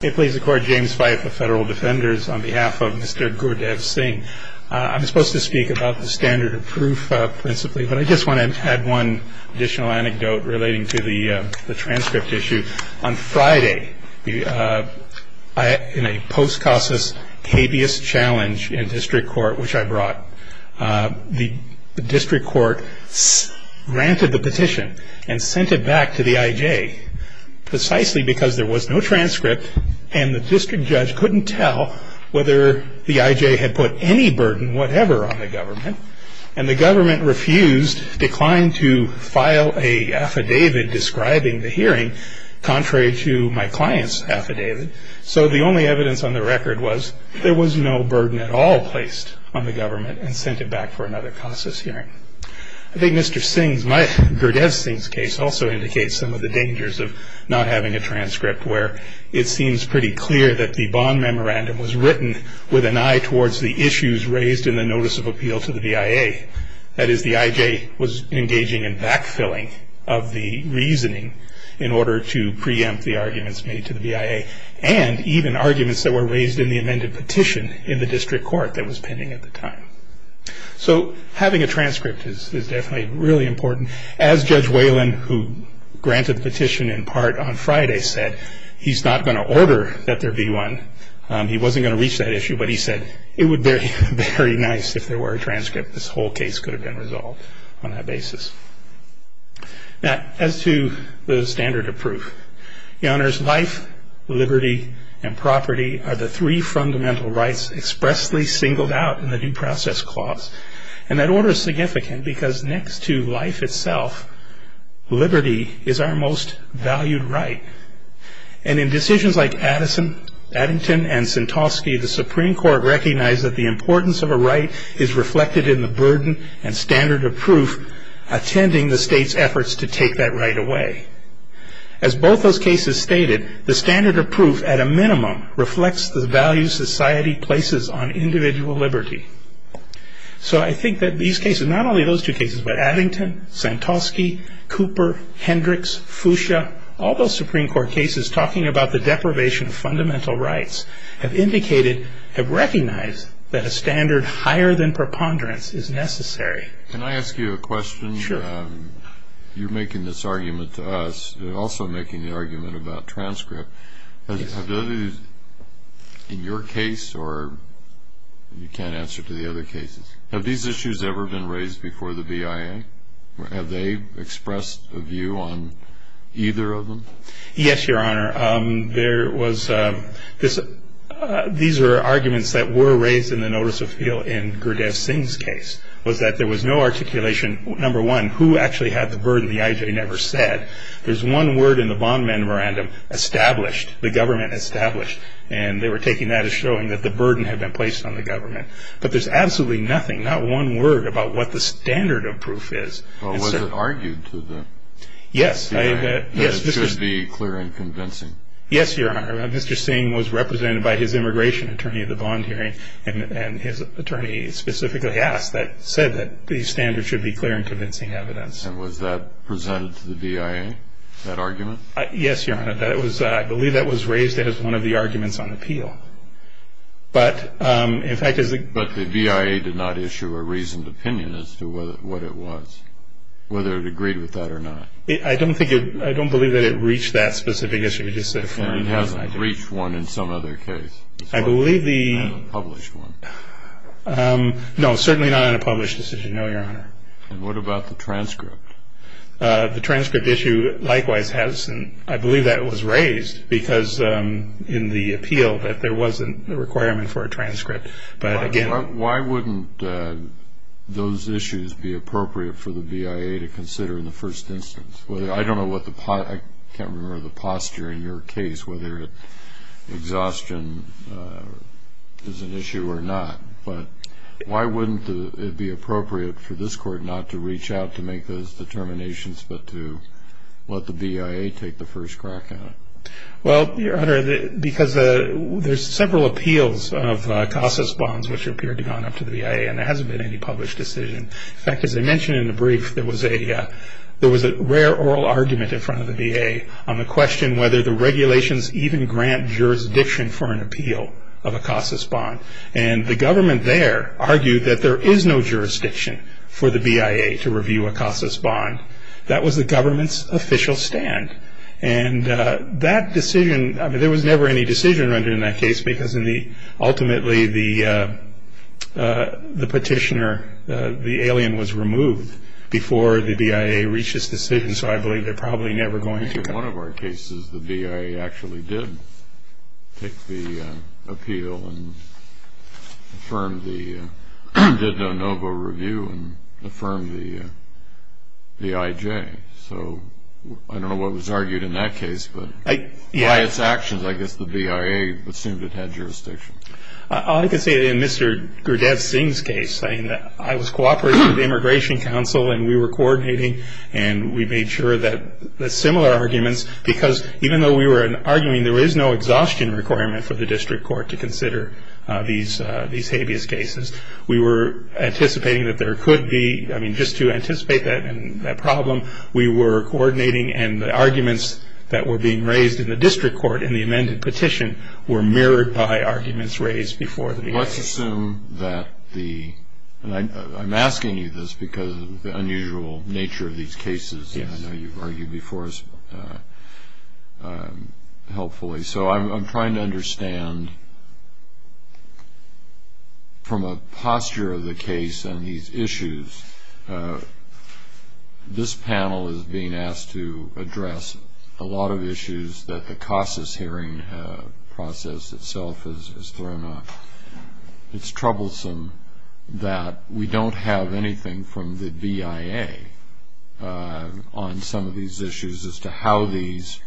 I'm supposed to speak about the standard of proof principally, but I just want to add one additional anecdote relating to the transcript issue. On Friday, in a post-CASAS habeas challenge in district court, which I brought, the district court granted the petition and sent it back to the IJ precisely because there was no transcript and the district judge couldn't tell whether the IJ had put any burden whatever on the government. And the government refused, declined to file an affidavit describing the hearing contrary to my client's affidavit. So the only evidence on the record was there was no burden at all placed on the government and sent it back for another CASAS hearing. I think Mr. Singh's, Gurdev Singh's case also indicates some of the dangers of not having a transcript where it seems pretty clear that the bond memorandum was written with an eye towards the issues raised in the notice of appeal to the BIA. That is the IJ was engaging in backfilling of the reasoning in order to preempt the arguments made to the BIA and even arguments that were raised in the amended petition in the district court that was pending at the time. So having a transcript is definitely really important. As Judge Whalen, who granted the petition in part on Friday, said he's not going to order that there be one. He wasn't going to reach that issue, but he said it would be very nice if there were a transcript. This whole case could have been resolved on that basis. Now, as to the standard of proof, your honors, life, liberty and property are the three fundamental rights expressly singled out in the due process clause. And that order is significant because next to life itself, liberty is our most valued right. And in decisions like Addison, Addington and Sentoski, the Supreme Court recognized that the importance of a right is reflected in the burden and standard of proof. Attending the state's efforts to take that right away. As both those cases stated, the standard of proof at a minimum reflects the values society places on individual liberty. So I think that these cases, not only those two cases, but Addington, Sentoski, Cooper, Hendricks, Fuchsia, all those Supreme Court cases talking about the deprivation of fundamental rights have indicated, have recognized that a standard higher than preponderance is necessary. Can I ask you a question? Sure. You're making this argument to us. You're also making the argument about transcript. Yes. Have those, in your case, or you can't answer to the other cases, have these issues ever been raised before the BIA? Have they expressed a view on either of them? Yes, your honor. There was this, these are arguments that were raised in the notice of appeal in Gurdev Singh's case, was that there was no articulation, number one, who actually had the burden the IJ never said. There's one word in the bond memorandum, established, the government established, and they were taking that as showing that the burden had been placed on the government. But there's absolutely nothing, not one word about what the standard of proof is. Was it argued to them? Yes. It should be clear and convincing. Yes, your honor. Mr. Singh was represented by his immigration attorney at the bond hearing, and his attorney specifically asked that, said that the standard should be clear and convincing evidence. And was that presented to the BIA, that argument? Yes, your honor. I believe that was raised as one of the arguments on appeal. But, in fact, as the But the BIA did not issue a reasoned opinion as to what it was, whether it agreed with that or not. I don't think it, I don't believe that it reached that specific issue. And it hasn't reached one in some other case. I believe the Not in a published one. No, certainly not in a published decision, no, your honor. And what about the transcript? The transcript issue likewise has, and I believe that was raised, because in the appeal that there wasn't a requirement for a transcript. But again Why wouldn't those issues be appropriate for the BIA to consider in the first instance? I don't know what the, I can't remember the posture in your case, whether exhaustion is an issue or not. But why wouldn't it be appropriate for this court not to reach out to make those determinations, but to let the BIA take the first crack at it? Well, your honor, because there's several appeals of CASA's bonds, which appear to have gone up to the BIA, and there hasn't been any published decision. In fact, as I mentioned in the brief, there was a rare oral argument in front of the BIA on the question whether the regulations even grant jurisdiction for an appeal of a CASA's bond. And the government there argued that there is no jurisdiction for the BIA to review a CASA's bond. That was the government's official stand. And that decision, I mean, there was never any decision rendered in that case, because ultimately the petitioner, the alien, was removed before the BIA reached its decision. So I believe they're probably never going to come back. In one of our cases, the BIA actually did take the appeal and affirmed the, did the ANOVA review and affirmed the IJ. So I don't know what was argued in that case, but by its actions, I guess the BIA assumed it had jurisdiction. All I can say in Mr. Gurdev Singh's case, I was cooperating with the Immigration Council, and we were coordinating, and we made sure that the similar arguments, because even though we were arguing there is no exhaustion requirement for the district court to consider these habeas cases, we were anticipating that there could be, I mean, just to anticipate that problem, we were coordinating and the arguments that were being raised in the district court in the amended petition were mirrored by arguments raised before the BIA. Let's assume that the, and I'm asking you this because of the unusual nature of these cases, and I know you've argued before us helpfully, so I'm trying to understand from a posture of the case and these issues, this panel is being asked to address a lot of issues that the CASAS hearing process itself has thrown up. It's troublesome that we don't have anything from the BIA on some of these issues as to how these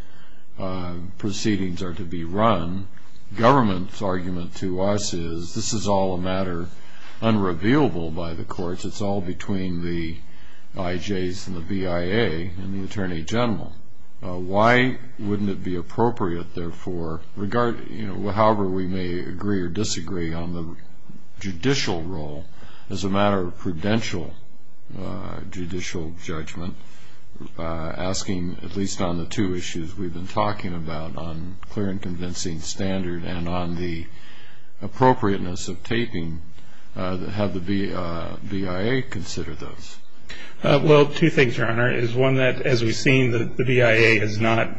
proceedings are to be run. Government's argument to us is this is all a matter unrevealable by the courts. It's all between the IJs and the BIA and the Attorney General. Why wouldn't it be appropriate, therefore, however we may agree or disagree on the judicial role, as a matter of prudential judicial judgment, asking at least on the two issues we've been talking about, on clear and convincing standard and on the appropriateness of taping, have the BIA consider those? Well, two things, Your Honor, is one that, as we've seen, the BIA is not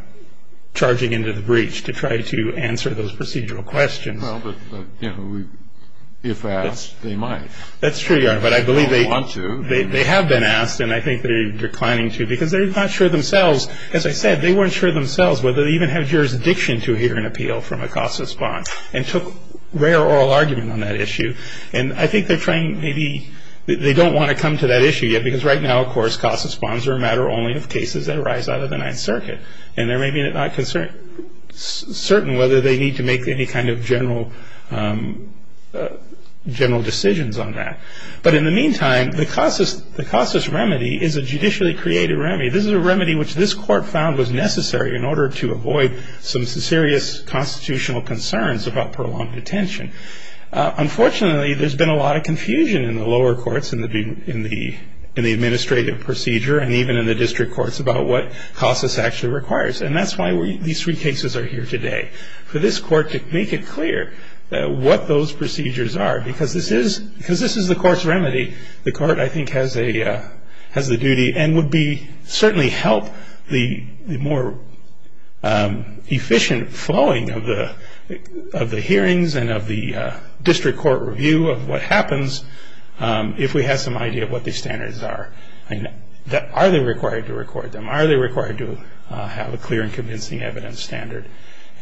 charging into the breach to try to answer those procedural questions. Well, but, you know, if asked, they might. That's true, Your Honor, but I believe they have been asked and I think they're declining to because they're not sure themselves. As I said, they weren't sure themselves whether they even have jurisdiction to hear an appeal from a casus bond and took rare oral argument on that issue. And I think they're trying maybe they don't want to come to that issue yet because right now, of course, casus bonds are a matter only of cases that arise out of the Ninth Circuit. And there may be not certain whether they need to make any kind of general decisions on that. But in the meantime, the casus remedy is a judicially created remedy. This is a remedy which this Court found was necessary in order to avoid some serious constitutional concerns about prolonged detention. Unfortunately, there's been a lot of confusion in the lower courts in the administrative procedure and even in the district courts about what casus actually requires. And that's why these three cases are here today, for this Court to make it clear what those procedures are, because this is the Court's remedy. The Court, I think, has the duty and would certainly help the more efficient flowing of the hearings and of the district court review of what happens if we had some idea of what these standards are. Are they required to record them? Are they required to have a clear and convincing evidence standard?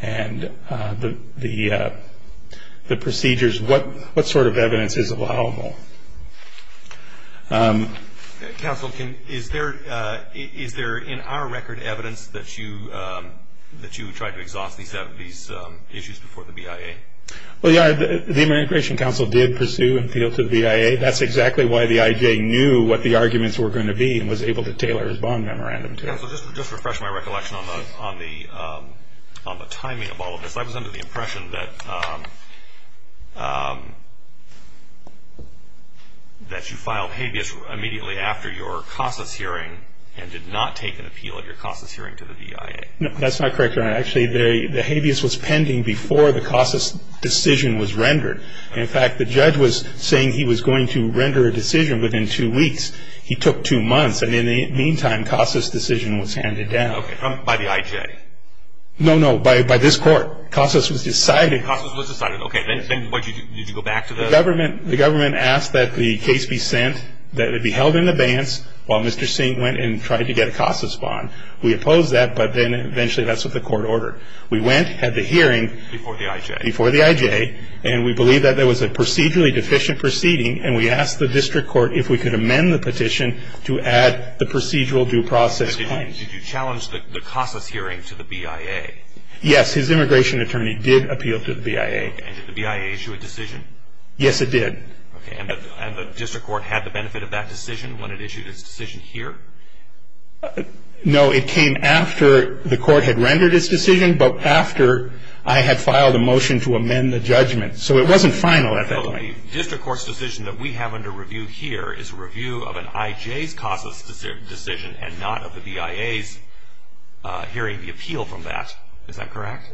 And the procedures, what sort of evidence is allowable? Counsel, is there in our record evidence that you tried to exhaust these issues before the BIA? Well, yeah, the Immigration Counsel did pursue and appeal to the BIA. That's exactly why the IJ knew what the arguments were going to be and was able to tailor his bond memorandum to it. Counsel, just to refresh my recollection on the timing of all of this, I was under the impression that you filed habeas immediately after your casus hearing and did not take an appeal at your casus hearing to the BIA. No, that's not correct, Your Honor. Actually, the habeas was pending before the casus decision was rendered. In fact, the judge was saying he was going to render a decision within two weeks. He took two months. And in the meantime, casus decision was handed down. Okay, by the IJ? No, no, by this Court. Casus was decided. Casus was decided. Okay, then what did you do? Did you go back to the? The government asked that the case be sent, that it be held in abeyance, while Mr. Singh went and tried to get a casus bond. We opposed that, but then eventually that's what the Court ordered. We went, had the hearing. Before the IJ. Before the IJ. And we believed that there was a procedurally deficient proceeding, and we asked the district court if we could amend the petition to add the procedural due process. But did you challenge the casus hearing to the BIA? Yes, his immigration attorney did appeal to the BIA. And did the BIA issue a decision? Yes, it did. Okay, and the district court had the benefit of that decision when it issued its decision here? No, it came after the court had rendered its decision, but after I had filed a motion to amend the judgment. So it wasn't final at that point. A district court's decision that we have under review here is a review of an IJ's casus decision and not of the BIA's hearing the appeal from that. Is that correct?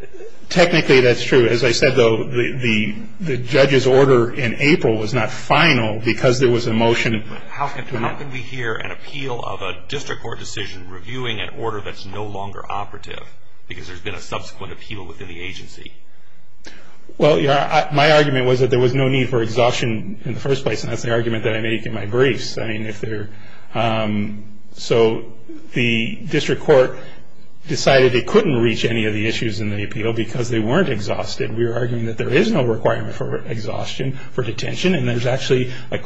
Technically, that's true. As I said, though, the judge's order in April was not final because there was a motion. How can we hear an appeal of a district court decision reviewing an order that's no longer operative because there's been a subsequent appeal within the agency? Well, my argument was that there was no need for exhaustion in the first place, and that's the argument that I make in my briefs. So the district court decided it couldn't reach any of the issues in the appeal because they weren't exhausted. We were arguing that there is no requirement for exhaustion for detention, and there's actually a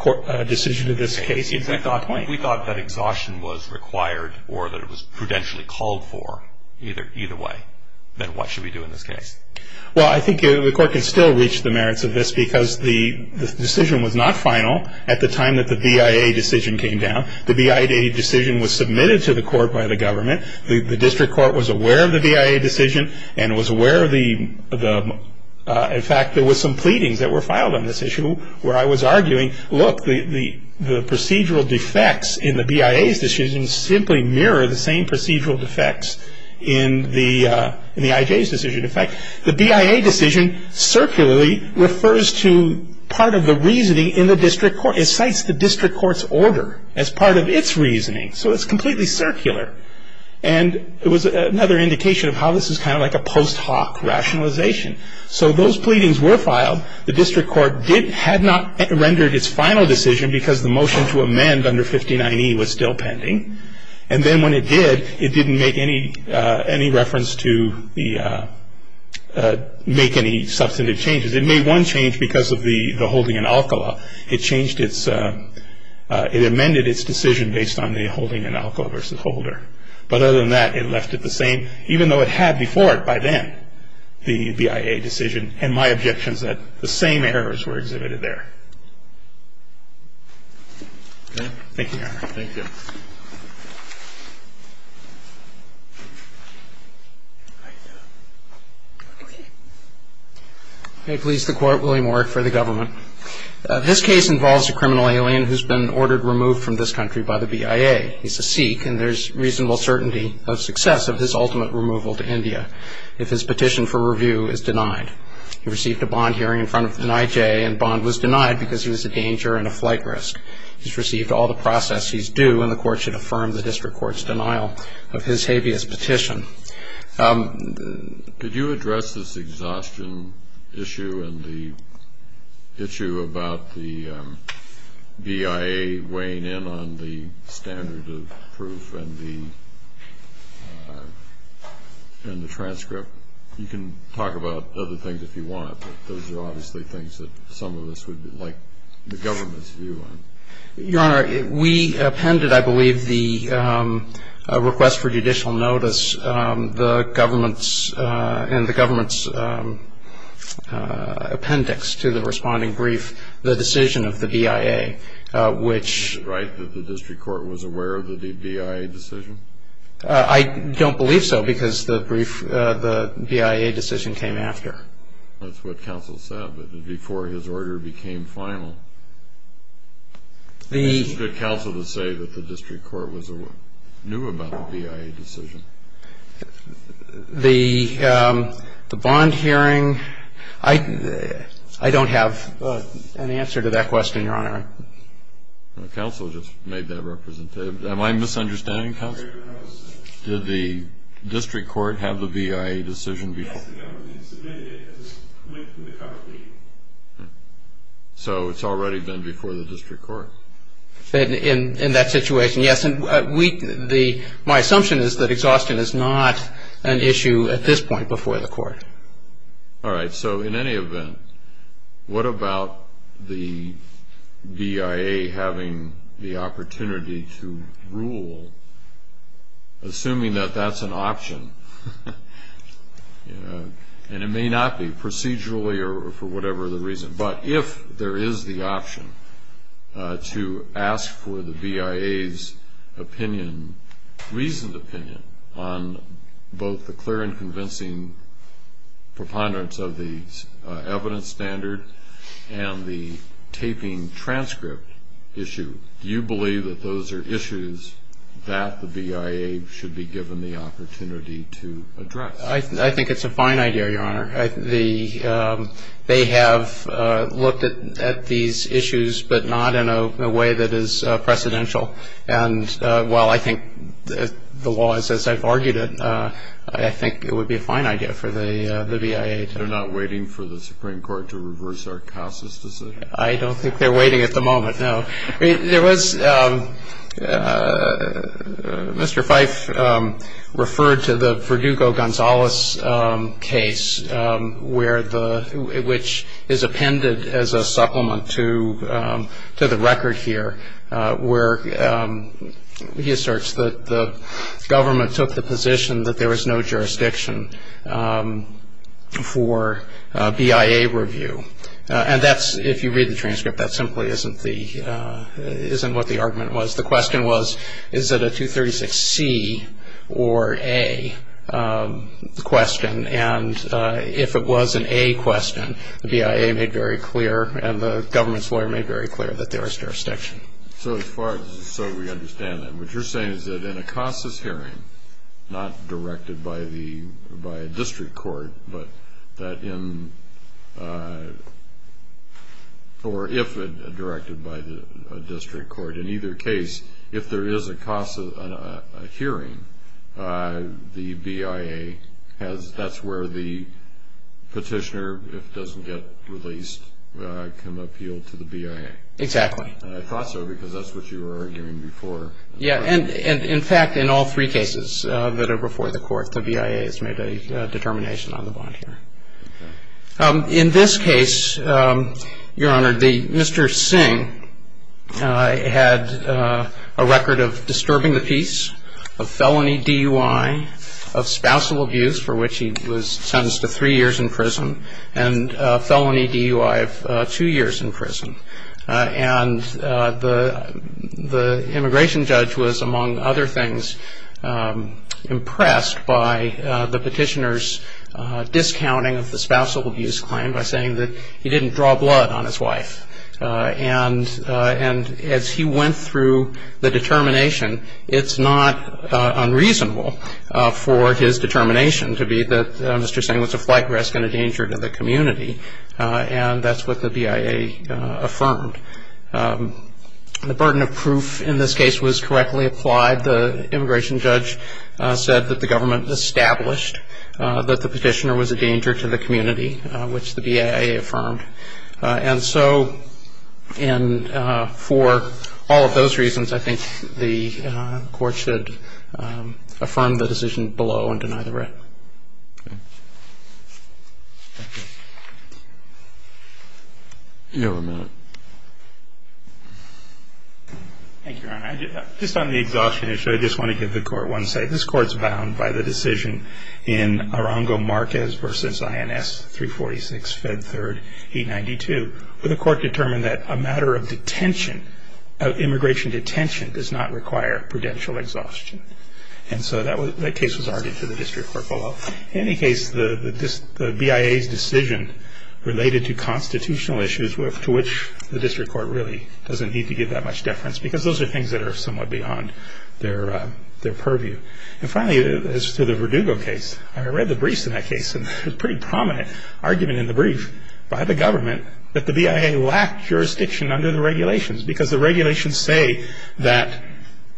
decision to this case. If we thought that exhaustion was required or that it was prudentially called for, either way, then what should we do in this case? Well, I think the court can still reach the merits of this because the decision was not final at the time that the BIA decision came down. The BIA decision was submitted to the court by the government. The district court was aware of the BIA decision and was aware of the, in fact, there was some pleadings that were filed on this issue where I was arguing, look, the procedural defects in the BIA's decision simply mirror the same procedural defects in the IJ's decision. In fact, the BIA decision circularly refers to part of the reasoning in the district court. It cites the district court's order as part of its reasoning, so it's completely circular, and it was another indication of how this is kind of like a post hoc rationalization. So those pleadings were filed. The district court had not rendered its final decision because the motion to amend under 59E was still pending, and then when it did, it didn't make any reference to make any substantive changes. It made one change because of the holding in alcohol. It amended its decision based on the holding in alcohol versus holder, but other than that, it left it the same, even though it had before it by then the BIA decision, and my objection is that the same errors were exhibited there. Thank you, Your Honor. Thank you. May it please the Court, Willie Moore for the government. This case involves a criminal alien who's been ordered removed from this country by the BIA. He's a Sikh, and there's reasonable certainty of success of his ultimate removal to India if his petition for review is denied. He received a bond hearing in front of NIJ, and bond was denied because he was a danger and a flight risk. He's received all the process he's due, and the Court should affirm the district court's denial of his habeas petition. Could you address this exhaustion issue and the issue about the BIA weighing in on the standard of proof and the transcript? You can talk about other things if you want, but those are obviously things that some of us would like the government's view on. Your Honor, we appended, I believe, the request for judicial notice and the government's appendix to the responding brief the decision of the BIA, which… Is it right that the district court was aware of the BIA decision? I don't believe so because the BIA decision came after. That's what counsel said, but before his order became final. It's good counsel to say that the district court knew about the BIA decision. The bond hearing, I don't have an answer to that question, Your Honor. Counsel just made that representation. Am I misunderstanding, counsel? Did the district court have the BIA decision before? Yes, the government submitted it as it went through the court. So it's already been before the district court? In that situation, yes. And my assumption is that exhaustion is not an issue at this point before the court. All right, so in any event, what about the BIA having the opportunity to rule, assuming that that's an option? And it may not be procedurally or for whatever the reason, but if there is the option to ask for the BIA's opinion, reasoned opinion, on both the clear and convincing preponderance of the evidence standard and the taping transcript issue, do you believe that those are issues that the BIA should be given the opportunity to address? I think it's a fine idea, Your Honor. They have looked at these issues, but not in a way that is precedential. And while I think the law is as I've argued it, I think it would be a fine idea for the BIA to do that. They're not waiting for the Supreme Court to reverse our CASA's decision? I don't think they're waiting at the moment, no. There was Mr. Fife referred to the Verdugo-Gonzalez case, which is appended as a supplement to the record here, where he asserts that the government took the position that there was no jurisdiction for BIA review. And that's, if you read the transcript, that simply isn't what the argument was. The question was, is it a 236C or A question? And if it was an A question, the BIA made very clear and the government's lawyer made very clear that there is jurisdiction. So as far as we understand it, what you're saying is that in a CASA's hearing, not directed by a district court, but that in, or if it directed by a district court, in either case, if there is a CASA hearing, the BIA has, that's where the petitioner, if doesn't get released, can appeal to the BIA. Exactly. And I thought so because that's what you were arguing before. Yeah. And in fact, in all three cases that are before the court, the BIA has made a determination on the bond here. In this case, Your Honor, Mr. Singh had a record of disturbing the peace, of felony DUI, of spousal abuse, for which he was sentenced to three years in prison, and felony DUI of two years in prison. And the immigration judge was, among other things, impressed by the petitioner's discounting of the spousal abuse claim by saying that he didn't draw blood on his wife. And as he went through the determination, it's not unreasonable for his determination to be that Mr. Singh was a flight risk and a danger to the community. And that's what the BIA affirmed. The burden of proof in this case was correctly applied. The immigration judge said that the government established that the petitioner was a danger to the community, which the BIA affirmed. And so for all of those reasons, I think the court should affirm the decision below and deny the writ. Thank you. You have a minute. Thank you, Your Honor. Just on the exhaustion issue, I just want to give the court one say. This court's bound by the decision in Arango-Marquez v. INS 346, Fed 3rd, 892, where the court determined that a matter of detention, of immigration detention, does not require prudential exhaustion. And so that case was argued for the district court below. In any case, the BIA's decision related to constitutional issues, to which the district court really doesn't need to give that much deference, because those are things that are somewhat beyond their purview. And finally, as to the Verdugo case, I read the briefs in that case, and it was a pretty prominent argument in the brief by the government that the BIA lacked jurisdiction under the regulations, because the regulations say that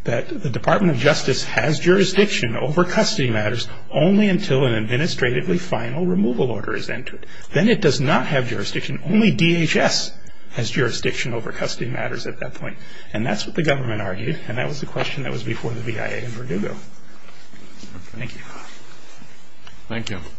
the Department of Justice has jurisdiction over custody matters only until an administratively final removal order is entered. Then it does not have jurisdiction. Only DHS has jurisdiction over custody matters at that point. And that's what the government argued, and that was the question that was before the BIA and Verdugo. Thank you. Thank you.